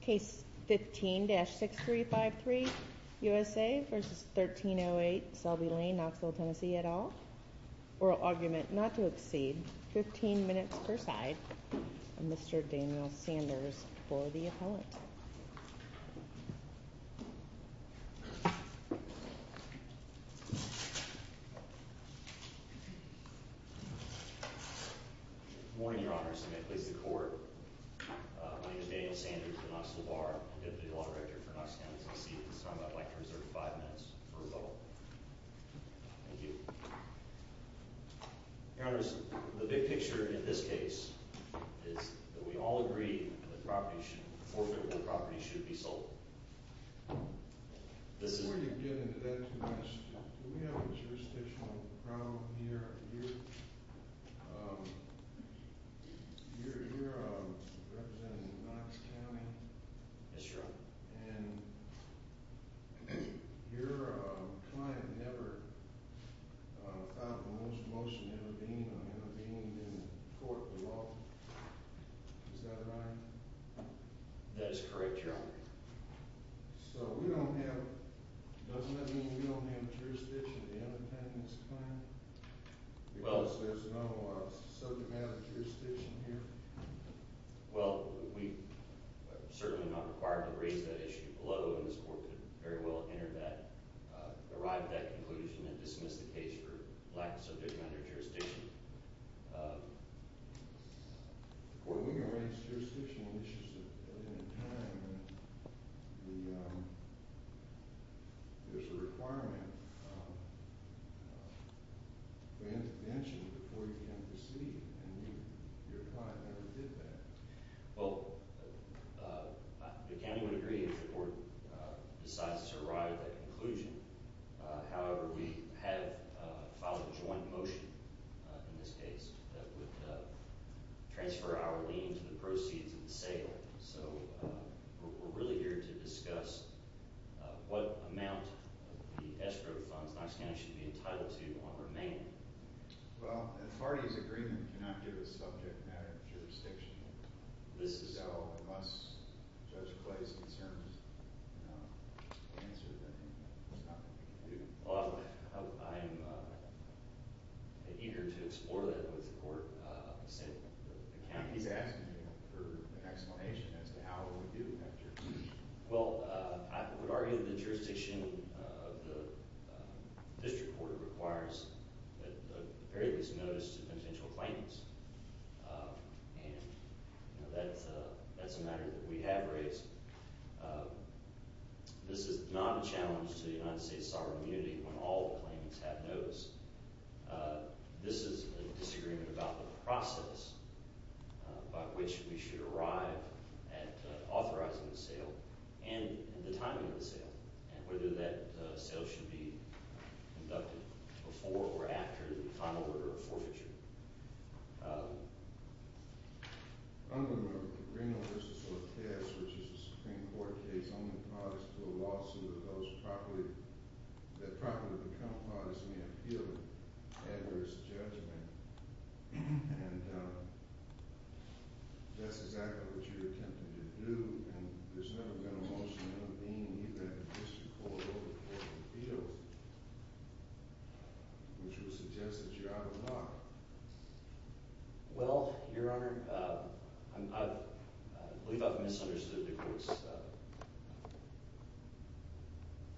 Case 15-6353, USA versus 1308 Selby Lane, Knoxville, Tennessee, et al. Oral argument not to exceed 15 minutes per side. Mr. Daniel Sanders for the appellant. Good morning, Your Honors, and may it please the Court, my name is Daniel Sanders for Knoxville Bar and Deputy Law Director for Knox County, Tennessee, and at this time I'd like to reserve five minutes for a vote. Thank you. Your Honors, the big picture in this case is that we all agree that the property should be sold. Before you get into that too much, do we have a jurisdictional problem here? You're representing Knox County? Yes, Your Honor. And your client never filed a motion intervening on intervening in court law. Is that right? Yes, Your Honor. That is correct, Your Honor. So we don't have, doesn't that mean we don't have jurisdiction at the end of time in this claim? Well, as there's no subject matter jurisdiction here? Well, we certainly are not required to raise that issue below and this court could very well enter that, arrive at that conclusion and dismiss the case for lack of subject matter Or we can raise jurisdictional issues if that is what you're asking. Well, the county would agree if the court decides to arrive at that conclusion. However, we have filed a joint motion in this case that would transfer our lien to the proceeds of the sale. So we're really here to discuss what amount of the escrow funds Knox County should be entitled to on remain. Well, an authority's agreement cannot give a subject matter jurisdiction. So unless Judge Clay's concerned, you know, answer the name. He's asking for an explanation as to how it would do after. Well, I would argue the jurisdiction of the district court requires at the very least notice to potential claimants. And that's a matter that we have raised. This is not a challenge to the United States sovereign immunity when all claimants have notice. This is a disagreement about the process by which we should arrive at authorizing the sale and the timing of the sale and whether that sale should be conducted before or after the final order of forfeiture. I'm going to go to Reno v. Ortez, which is a Supreme Court case. I'm going to file this to a lawsuit that those properly, that properly become parties may appeal an adverse judgment. And that's exactly what you're attempting to do. And there's never been a motion in a lien either at the district court or the foreman which would suggest that you're out of line. Well, Your Honor, I believe I've misunderstood the court's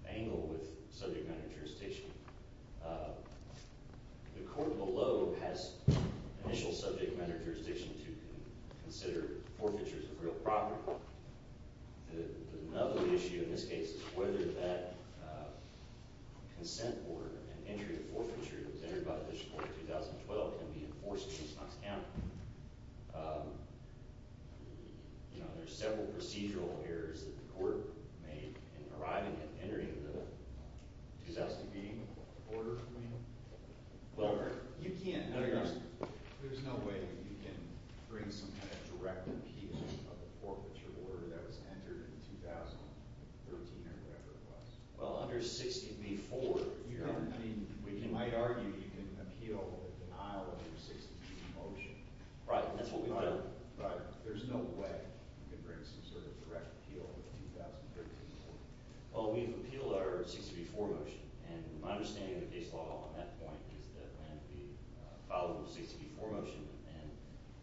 angle with subject matter jurisdiction. The court below has initial subject matter jurisdiction to consider forfeitures of real property. Another issue in this case is whether that consent order and entry to forfeiture that was entered by the district court in 2012 can be enforced in East Knox County. You know, there's several procedural errors that the court made in arriving and entering the 2012 meeting. Order, Reno? You can't. No, Your Honor. There's no way you can bring some kind of direct appeal of the forfeiture order that was entered in 2013 or whatever it was. Well, under 60B-4, Your Honor. I mean, you might argue you can appeal a denial of your 60B-4 motion. Right. That's what we've done. Right. There's no way you can bring some sort of direct appeal of the 2013 motion. Well, we've appealed our 60B-4 motion. And my understanding of the case law on that point is that we filed a 60B-4 motion, and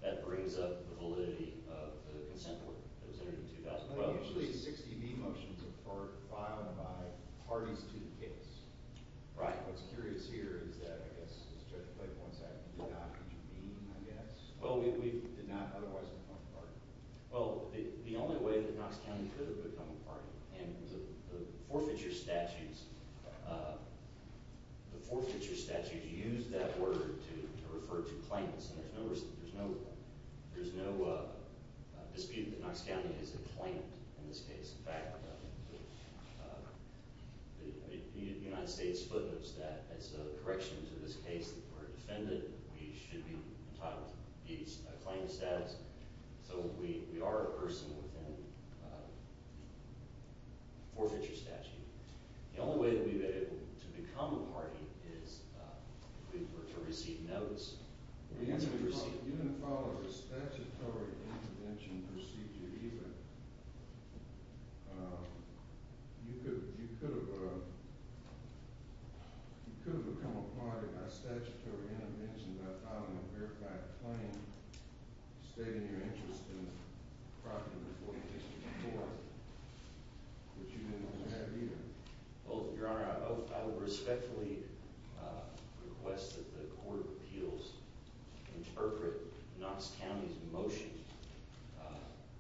that brings up the validity of the consent order that was entered in 2012. Well, usually 60B motions are filed by parties to the case. Right. What's curious here is that, I guess, as Judge Blake points out, we did not meet, I guess. Well, we did not otherwise form a party. Well, the only way that Knox County could have become a party, and the forfeiture statutes – the forfeiture statute used that word to refer to claimants. And there's no dispute that Knox County is a claimant in this case. In fact, the United States footnotes that as a correction to this case that we're a defendant, we should be entitled to a claimant status. So we are a person within the forfeiture statute. The only way that we've been able to become a party is if we were to receive notes. You didn't follow a statutory intervention procedure either. You could have become a party by statutory intervention by filing a verified claim stating in your interest in property number 4634, which you didn't want to have either. Well, Your Honor, I respectfully request that the Court of Appeals interpret Knox County's motion,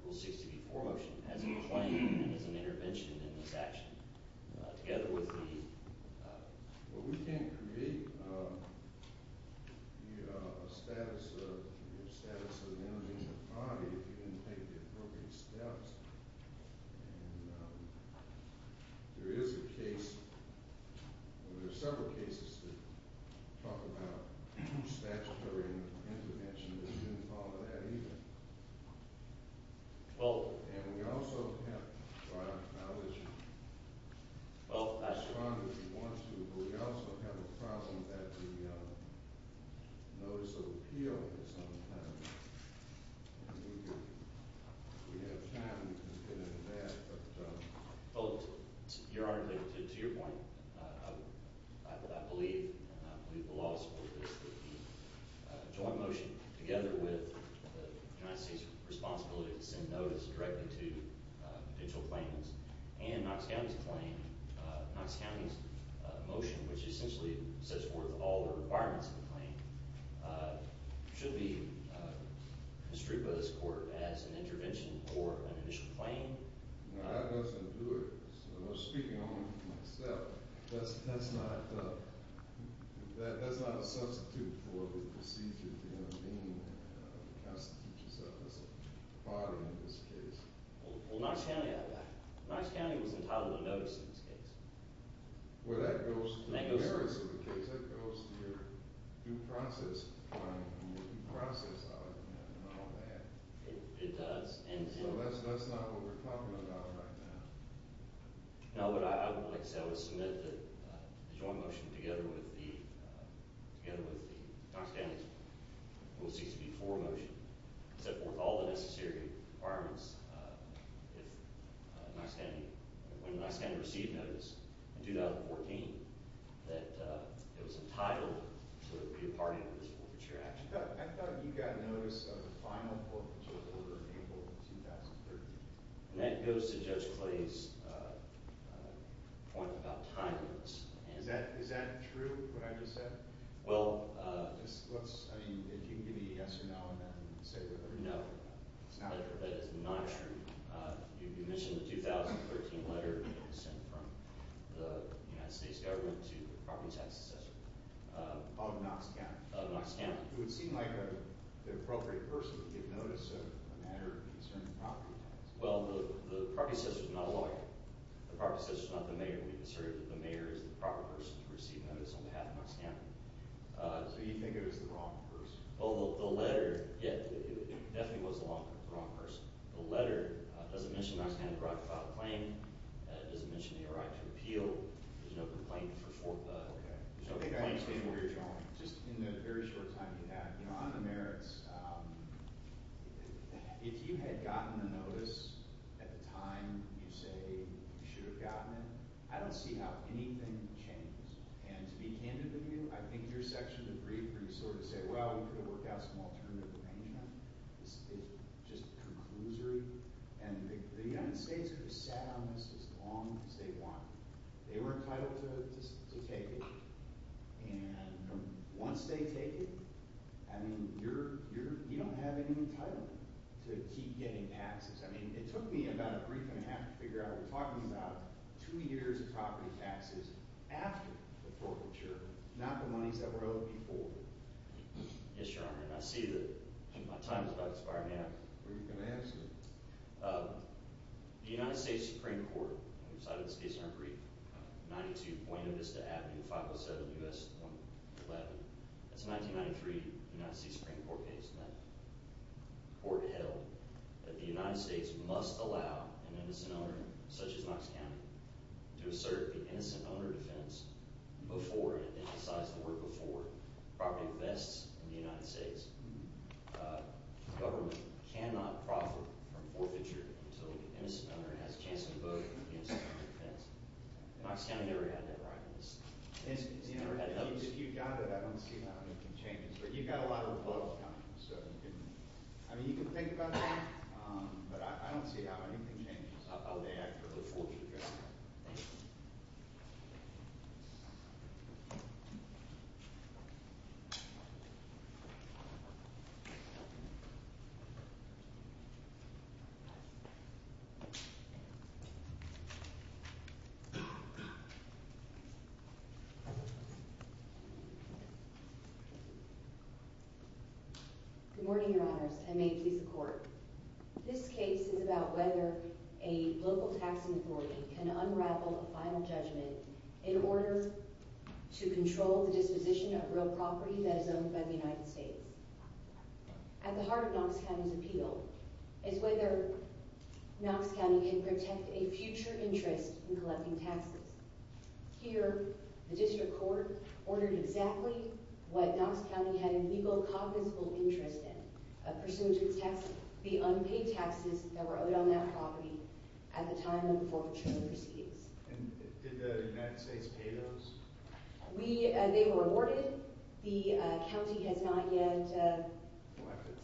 Rule 60B-4 motion, as a claim and as an intervention in this action together with the… Well, we can't create a status of an individual party if you didn't take the appropriate steps. And there is a case – there are several cases that talk about statutory intervention, but you didn't follow that either. Well… And we also have… Well… But we also have a problem that the Notice of Appeal has some kind of… If we have time, we can get into that, but… Well, Your Honor, to your point, I believe, and I believe the law supports this, that with the United States' responsibility to send notice directly to potential claimants and Knox County's motion, which essentially sets forth all the requirements of the claim, should be construed by this Court as an intervention or an initial claim. No, that doesn't do it. So I'm speaking only for myself. That's not a substitute for the procedure of being a constitutional body in this case. Well, Knox County had that. Knox County was entitled to notice in this case. Well, that goes to the merits of the case. That goes to your due process claim and your due process argument and all that. It does. So that's not what we're talking about right now. No, but I would like to say I would submit that the joint motion together with the… together with the Knox County Rule 60B-4 motion set forth all the necessary requirements if Knox County… when Knox County received notice in 2014 that it was entitled to be a party to this forfeiture action. I thought you got notice of the final forfeiture order in April of 2013. And that goes to Judge Clay's point about time limits. Is that true, what I just said? Well… I mean, if you can give me a yes or no and then say whatever you want. No, that is not true. You mentioned the 2013 letter sent from the United States government to the property tax assessor. Of Knox County. Of Knox County. It would seem like the appropriate person to get notice of a matter concerning property tax. Well, the property assessor is not a lawyer. The property assessor is not the mayor. We consider that the mayor is the proper person to receive notice on behalf of Knox County. So you think it was the wrong person? Well, the letter… Yeah, it definitely was the wrong person. The letter doesn't mention Knox County's right to file a claim. It doesn't mention the right to appeal. There's no complaint for… Okay. I think I understand where you're going. Just in the very short time you have. You know, on the merits, if you had gotten the notice at the time you say you should have gotten it, I don't see how anything would change. And to be candid with you, I think your section of the brief would sort of say, well, we could have worked out some alternative arrangement. It's just conclusory. And the United States could have sat on this as long as they wanted. They were entitled to take it. And once they take it, I mean, you don't have any entitlement to keep getting taxes. I mean, it took me about a brief and a half to figure out. We're talking about two years of property taxes after the forfeiture, not the monies that were owed before. Yes, Your Honor, and I see that my time is about to expire now. When are you going to ask me? The United States Supreme Court, and we cited this case in our brief, 92 Buena Vista Avenue, 507 U.S. 111. That's a 1993 United States Supreme Court case. And that court held that the United States must allow an innocent owner, such as Knox County, to assert the innocent owner defense before, and it emphasized the word before, property vests in the United States. The government cannot profit from forfeiture until the innocent owner has a chance to vote on the innocent owner defense. Knox County never had that right. Has he ever had it? If you've got it, I don't see how anything changes. But you've got a lot of rebuttals coming, so you can – I mean, you can think about that, but I don't see how anything changes. Thank you. Thank you. Good morning, Your Honors, and may it please the Court. This case is about whether a local taxing authority can unravel a final judgment in order to control the disposition of real property that is owned by the United States. At the heart of Knox County's appeal is whether Knox County can protect a future interest in collecting taxes. Here, the district court ordered exactly what Knox County had a legal, cognizable interest in, a pursuit to protect the unpaid taxes that were owed on that property at the time of the forfeiture proceedings. And did the United States pay those? We – they were awarded. The county has not yet – Collected?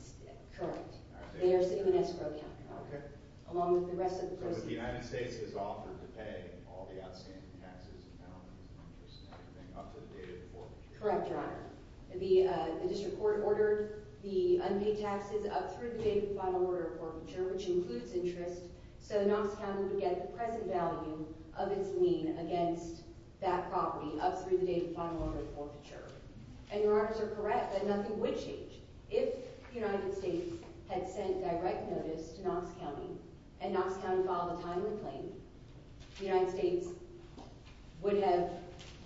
Correct. Okay. They are still in Escrow County. Okay. Along with the rest of the – So the United States has offered to pay all the outstanding taxes and balances and interest and everything up to the date of the forfeiture? Correct, Your Honor. The district court ordered the unpaid taxes up through the date of the final order of forfeiture, which includes interest, so Knox County would get the present value of its lien against that property up through the date of the final order of forfeiture. And Your Honors are correct that nothing would change. If the United States had sent direct notice to Knox County and Knox County filed a timely claim, the United States would have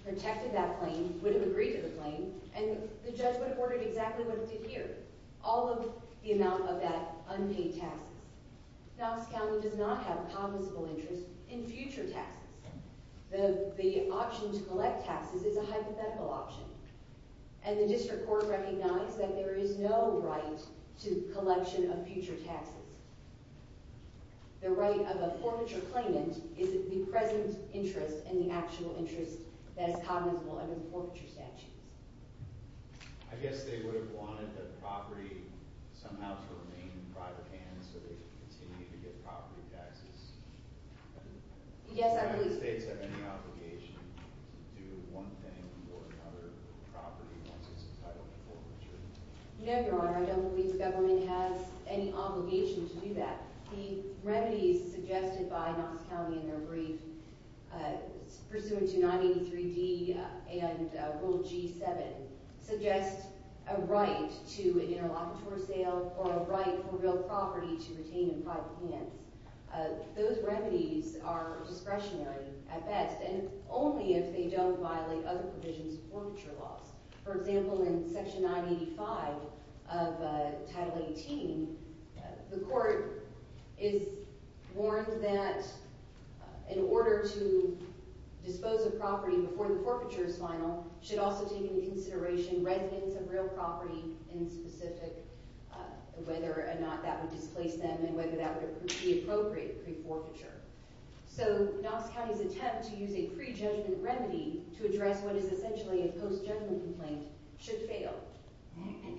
protected that claim, would have agreed to the claim, and the judge would have ordered exactly what it did here, all of the amount of that unpaid taxes. Knox County does not have a cognizable interest in future taxes. The option to collect taxes is a hypothetical option, and the district court recognized that there is no right to collection of future taxes. The right of a forfeiture claimant is the present interest and the actual interest that is cognizable under the forfeiture statutes. I guess they would have wanted the property somehow to remain in private hands so they could continue to get property taxes. Yes, I believe so. Does the United States have any obligation to do one thing or another with the property once it's entitled to forfeiture? No, Your Honor. I don't believe the government has any obligation to do that. The remedies suggested by Knox County in their brief pursuant to 983D and Rule G-7 suggest a right to an interlocutor sale or a right for real property to retain in private hands. Those remedies are discretionary at best, and only if they don't violate other provisions of forfeiture laws. For example, in Section 985 of Title 18, the court is warned that in order to dispose of property before the forfeiture is final, it should also take into consideration residents of real property in specific, whether or not that would displace them and whether that would be appropriate pre-forfeiture. So Knox County's attempt to use a pre-judgment remedy to address what is essentially a post-judgment complaint should fail.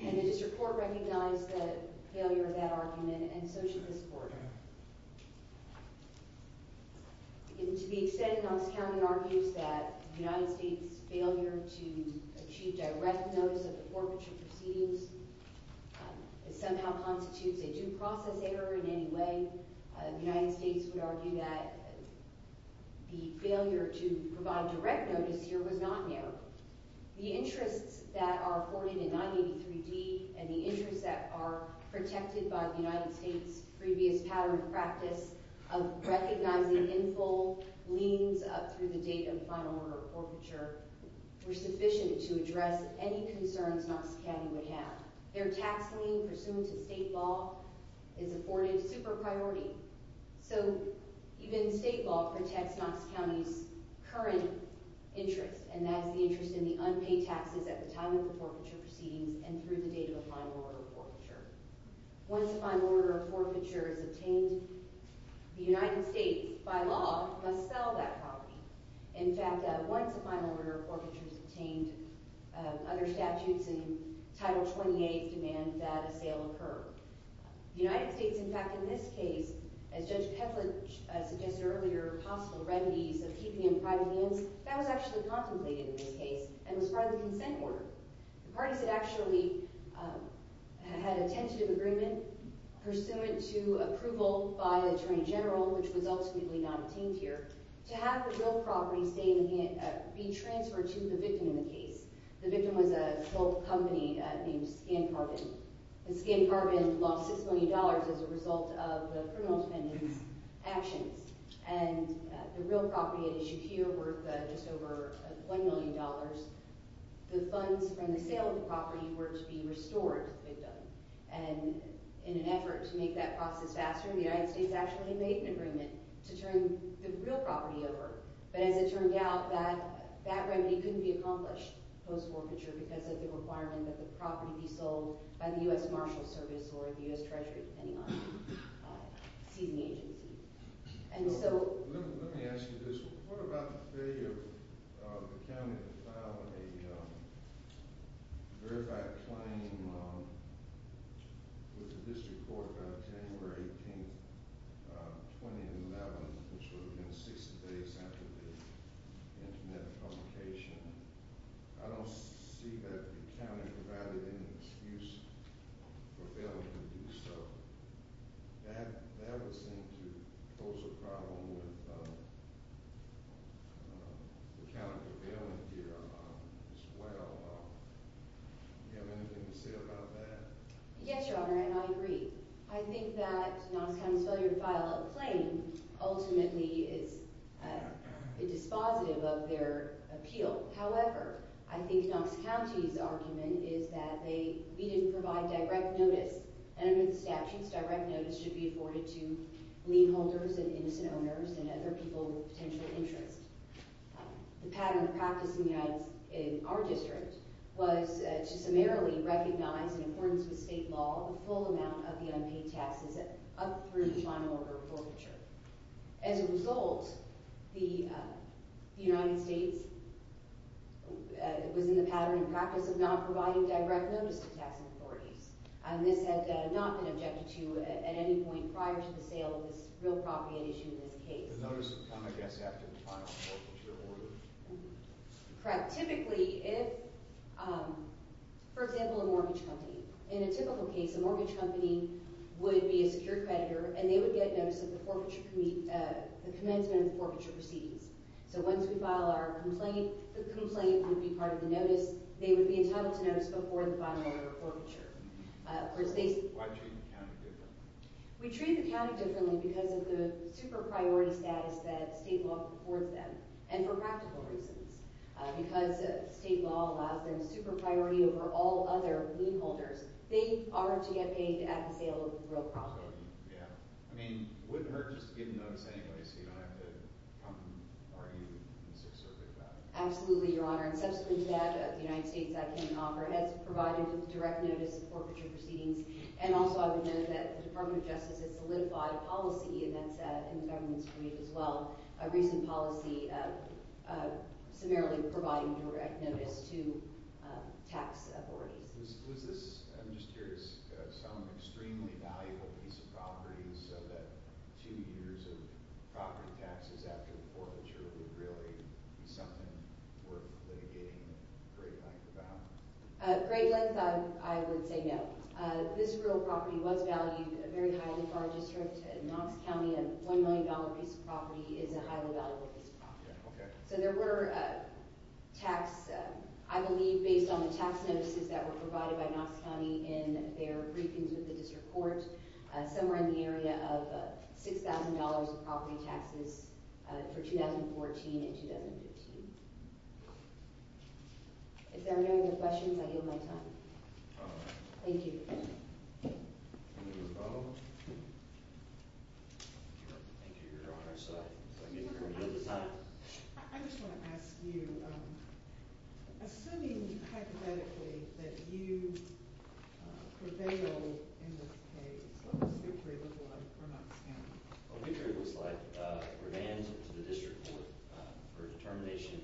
And the district court recognized the failure of that argument, and so should this court. To be extended, Knox County argues that the United States' failure to achieve direct notice of the forfeiture proceedings somehow constitutes a due process error in any way. The United States would argue that the failure to provide direct notice here was not an error. The interests that are afforded in 983D and the interests that are protected by the United States' previous pattern of practice of recognizing in full liens up through the date of the final order of forfeiture were sufficient to address any concerns Knox County would have. Their tax lien pursuant to state law is afforded super priority. So even state law protects Knox County's current interest, and that is the interest in the unpaid taxes at the time of the forfeiture proceedings and through the date of the final order of forfeiture. Once a final order of forfeiture is obtained, the United States, by law, must sell that property. In fact, once a final order of forfeiture is obtained, other statutes in Title 28 demand that a sale occur. The United States, in fact, in this case, as Judge Ketledge suggested earlier, possible remedies of keeping in private liens, that was actually contemplated in this case and was part of the consent order. The parties had actually had a tentative agreement pursuant to approval by the Attorney General, which was ultimately not obtained here, to have the real property be transferred to the victim in the case. The victim was a company named Scan Carbon. Scan Carbon lost $6 million as a result of the criminal defendant's actions, and the real property had issued here worth just over $1 million. The funds from the sale of the property were to be restored to the victim. And in an effort to make that process faster, the United States actually made an agreement to turn the real property over. But as it turned out, that remedy couldn't be accomplished post-forfeiture because of the requirement that the property be sold by the U.S. Marshal Service or the U.S. Treasury, depending on the seizing agency. Let me ask you this. What about the failure of the county to file a verified claim with the district court on January 18, 2011, which would have been 60 days after the Internet publication? I don't see that the county provided any excuse for failing to do so. That would seem to pose a problem with the county prevailing here as well. Do you have anything to say about that? Yes, Your Honor, and I agree. I think that Knox County's failure to file a claim ultimately is a dispositive of their appeal. However, I think Knox County's argument is that we didn't provide direct notice. And under the statutes, direct notice should be afforded to lien holders and innocent owners and other people with potential interest. The pattern of practice in our district was to summarily recognize in accordance with state law the full amount of the unpaid taxes up through the final order of forfeiture. As a result, the United States was in the pattern and practice of not providing direct notice to taxing authorities. This had not been objected to at any point prior to the sale of this real property at issue in this case. The notice would come, I guess, after the final forfeiture order. Correct. Typically, if, for example, a mortgage company. In a typical case, a mortgage company would be a secure creditor, and they would get notice of the commencement of the forfeiture proceedings. So once we file our complaint, the complaint would be part of the notice. They would be entitled to notice before the final order of forfeiture. Why treat the county differently? We treat the county differently because of the super priority status that state law affords them, and for practical reasons. Because state law allows them super priority over all other lien holders. They are to get paid at the sale of the real property. Yeah. I mean, wouldn't it hurt just to get a notice anyway so you don't have to come and argue in the Sixth Circuit about it? Absolutely, Your Honor. And subsequent to that, the United States, I can offer, has provided direct notice of forfeiture proceedings. And also, I would note that the Department of Justice has solidified policy, and that's in the government's brief as well. A recent policy of summarily providing direct notice to tax authorities. Was this, I'm just curious, some extremely valuable piece of property so that two years of property taxes after the forfeiture would really be something worth litigating a great length about? A great length, I would say no. This real property was valued very highly for our district. Knox County, a $1 million piece of property, is a highly valuable piece of property. Okay. So there were tax, I believe based on the tax notices that were provided by Knox County in their briefings with the district court, somewhere in the area of $6,000 of property taxes for 2014 and 2015. If there are no other questions, I yield my time. Thank you. I just want to ask you, assuming hypothetically that you prevail in this case, what does Big Tree look like for Knox County? Well, Big Tree looks like revams to the district court for determination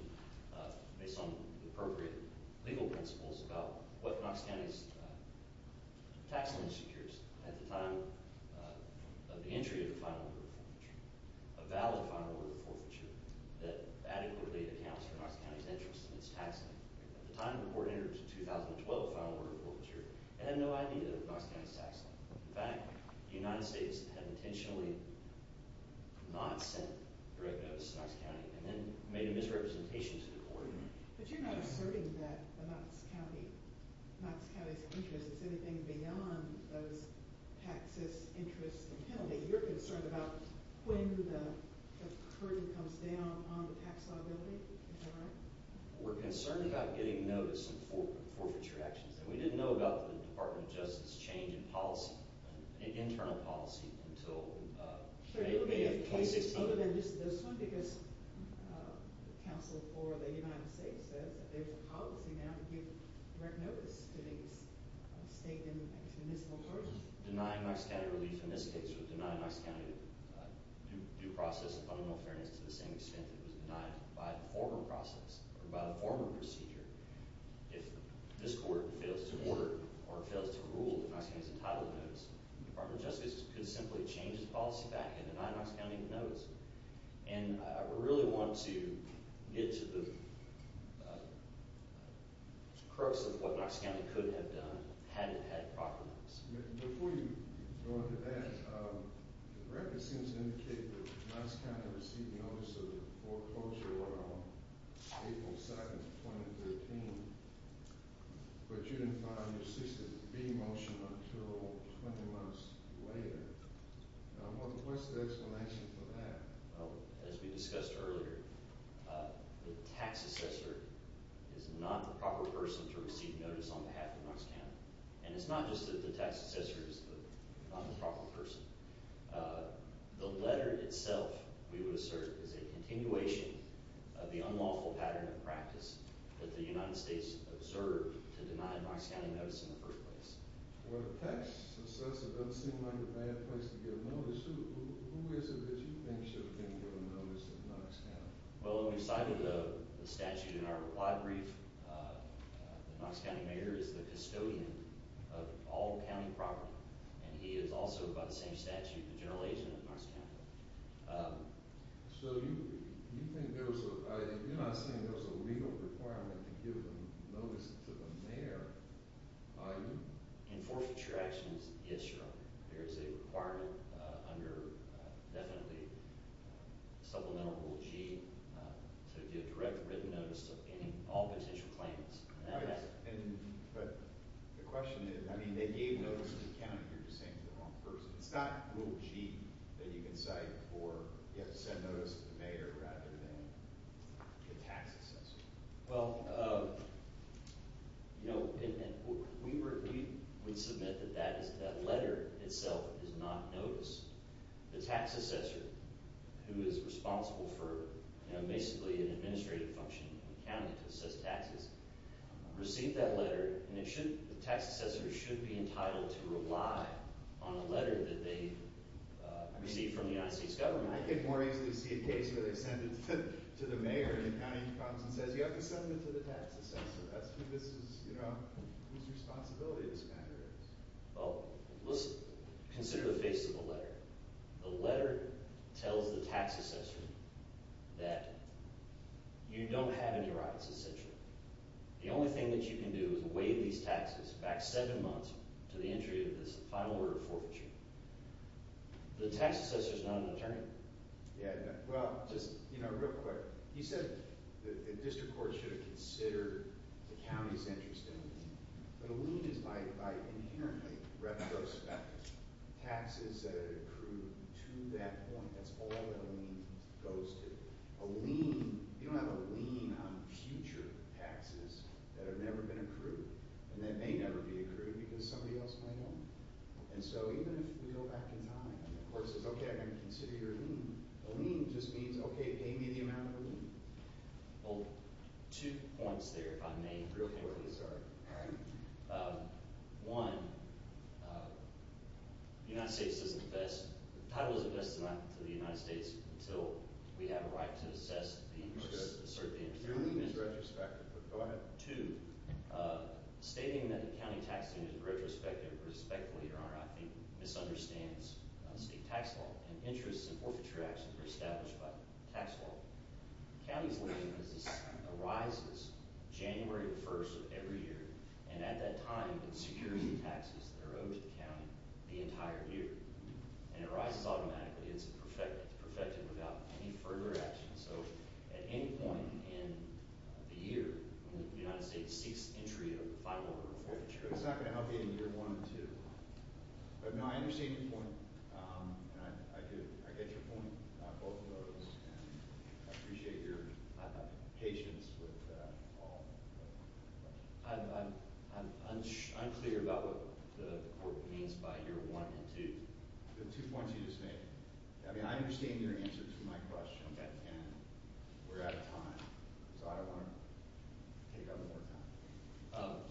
based on appropriate legal principles about what Knox County's tax loan secures. At the time of the entry of the final order of forfeiture, a valid final order of forfeiture that adequately accounts for Knox County's interest in its tax loan. At the time the court entered into 2012 final order of forfeiture, it had no idea of Knox County's tax loan. In fact, the United States had intentionally not sent direct notice to Knox County and then made a misrepresentation to the court. But you're not asserting that Knox County's interest is anything beyond those taxes, interest, and penalty. You're concerned about when the curtain comes down on the tax liability. Is that right? We're concerned about getting notice of forfeiture actions. And we didn't know about the Department of Justice change in policy, in internal policy, until May of 2016. So it would be a case other than just this one because counsel for the United States says that there's a policy now to give direct notice to the state and its municipal person. Denying Knox County relief in this case would deny Knox County due process of fundamental fairness to the same extent it was denied by the former process or by the former procedure. If this court fails to order or fails to rule that Knox County is entitled to notice, the Department of Justice could simply change its policy back and deny Knox County the notice. And I really want to get to the crux of what Knox County could have done had it had proper notice. Before you go into that, the record seems to indicate that Knox County received notice of the foreclosure on April 7, 2013. But you didn't file your 60-B motion until 20 months later. What's the explanation for that? As we discussed earlier, the tax assessor is not the proper person to receive notice on behalf of Knox County. And it's not just that the tax assessor is not the proper person. The letter itself, we would assert, is a continuation of the unlawful pattern of practice that the United States observed to deny Knox County notice in the first place. Well, if the tax assessor doesn't seem like a bad place to give notice, who is it that you think should have been given notice of Knox County? Well, when we cited the statute in our reply brief, the Knox County mayor is the custodian of all county property. And he is also, by the same statute, the general agent of Knox County. So you think there was a – you're not saying there was a legal requirement to give notice to the mayor, are you? In forfeiture actions, yes, Your Honor. There is a requirement under, definitely, Supplemental Rule G to give direct written notice to all potential claimants. But the question is, I mean, they gave notice to the county. You're just saying to the wrong person. It's not Rule G that you can cite for you have to send notice to the mayor rather than the tax assessor. Well, you know, we would submit that that is – that letter itself is not notice. The tax assessor, who is responsible for basically an administrative function in the county to assess taxes, received that letter. And it should – the tax assessor should be entitled to rely on a letter that they received from the United States government. I can more easily see a case where they send it to the mayor and the county comes and says, you have to send it to the tax assessor. That's who this is – whose responsibility this matter is. Well, let's consider the face of the letter. The letter tells the tax assessor that you don't have any rights, essentially. The only thing that you can do is waive these taxes back seven months to the entry of this final order of forfeiture. The tax assessor is not an attorney. Yeah, well, just real quick. You said the district court should have considered the county's interest in a lien. But a lien is by inherently retrospective. Taxes that are accrued to that point, that's all that a lien goes to. A lien – you don't have a lien on future taxes that have never been accrued. And that may never be accrued because somebody else might own it. And so even if we go back in time and the court says, okay, I'm going to consider your lien. A lien just means, okay, pay me the amount of a lien. Well, two points there, if I may, real quickly. One, the United States doesn't invest – the title doesn't invest to the United States until we have a right to assess the interest – assert the interest. Your lien is retrospective, but go ahead. Two, stating that the county tax is retrospective, respectfully, Your Honor, I think misunderstands state tax law. And interest and forfeiture actions are established by tax law. The county's lien arises January 1st of every year. And at that time, it's security taxes that are owed to the county the entire year. And it arises automatically. It's perfected without any further action. So at any point in the year, the United States seeks entry of a fine order of forfeiture. It's not going to help you in year one and two. But, no, I understand your point, and I get your point on both of those. And I appreciate your patience with all of them. I'm unclear about what the court means by year one and two. The two points you just made. I mean, I understand your answer to my question. Okay. And we're out of time, so I want to take up more time.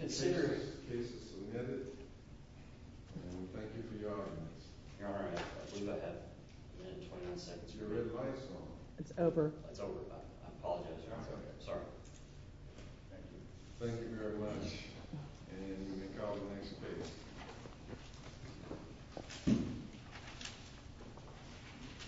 Consider cases submitted. And thank you for your audience. All right. I believe I have a minute and 29 seconds. Your red light is on. It's over. It's over. I apologize, Your Honor. It's okay. I'm sorry. Thank you. Thank you very much. And you may call the next case.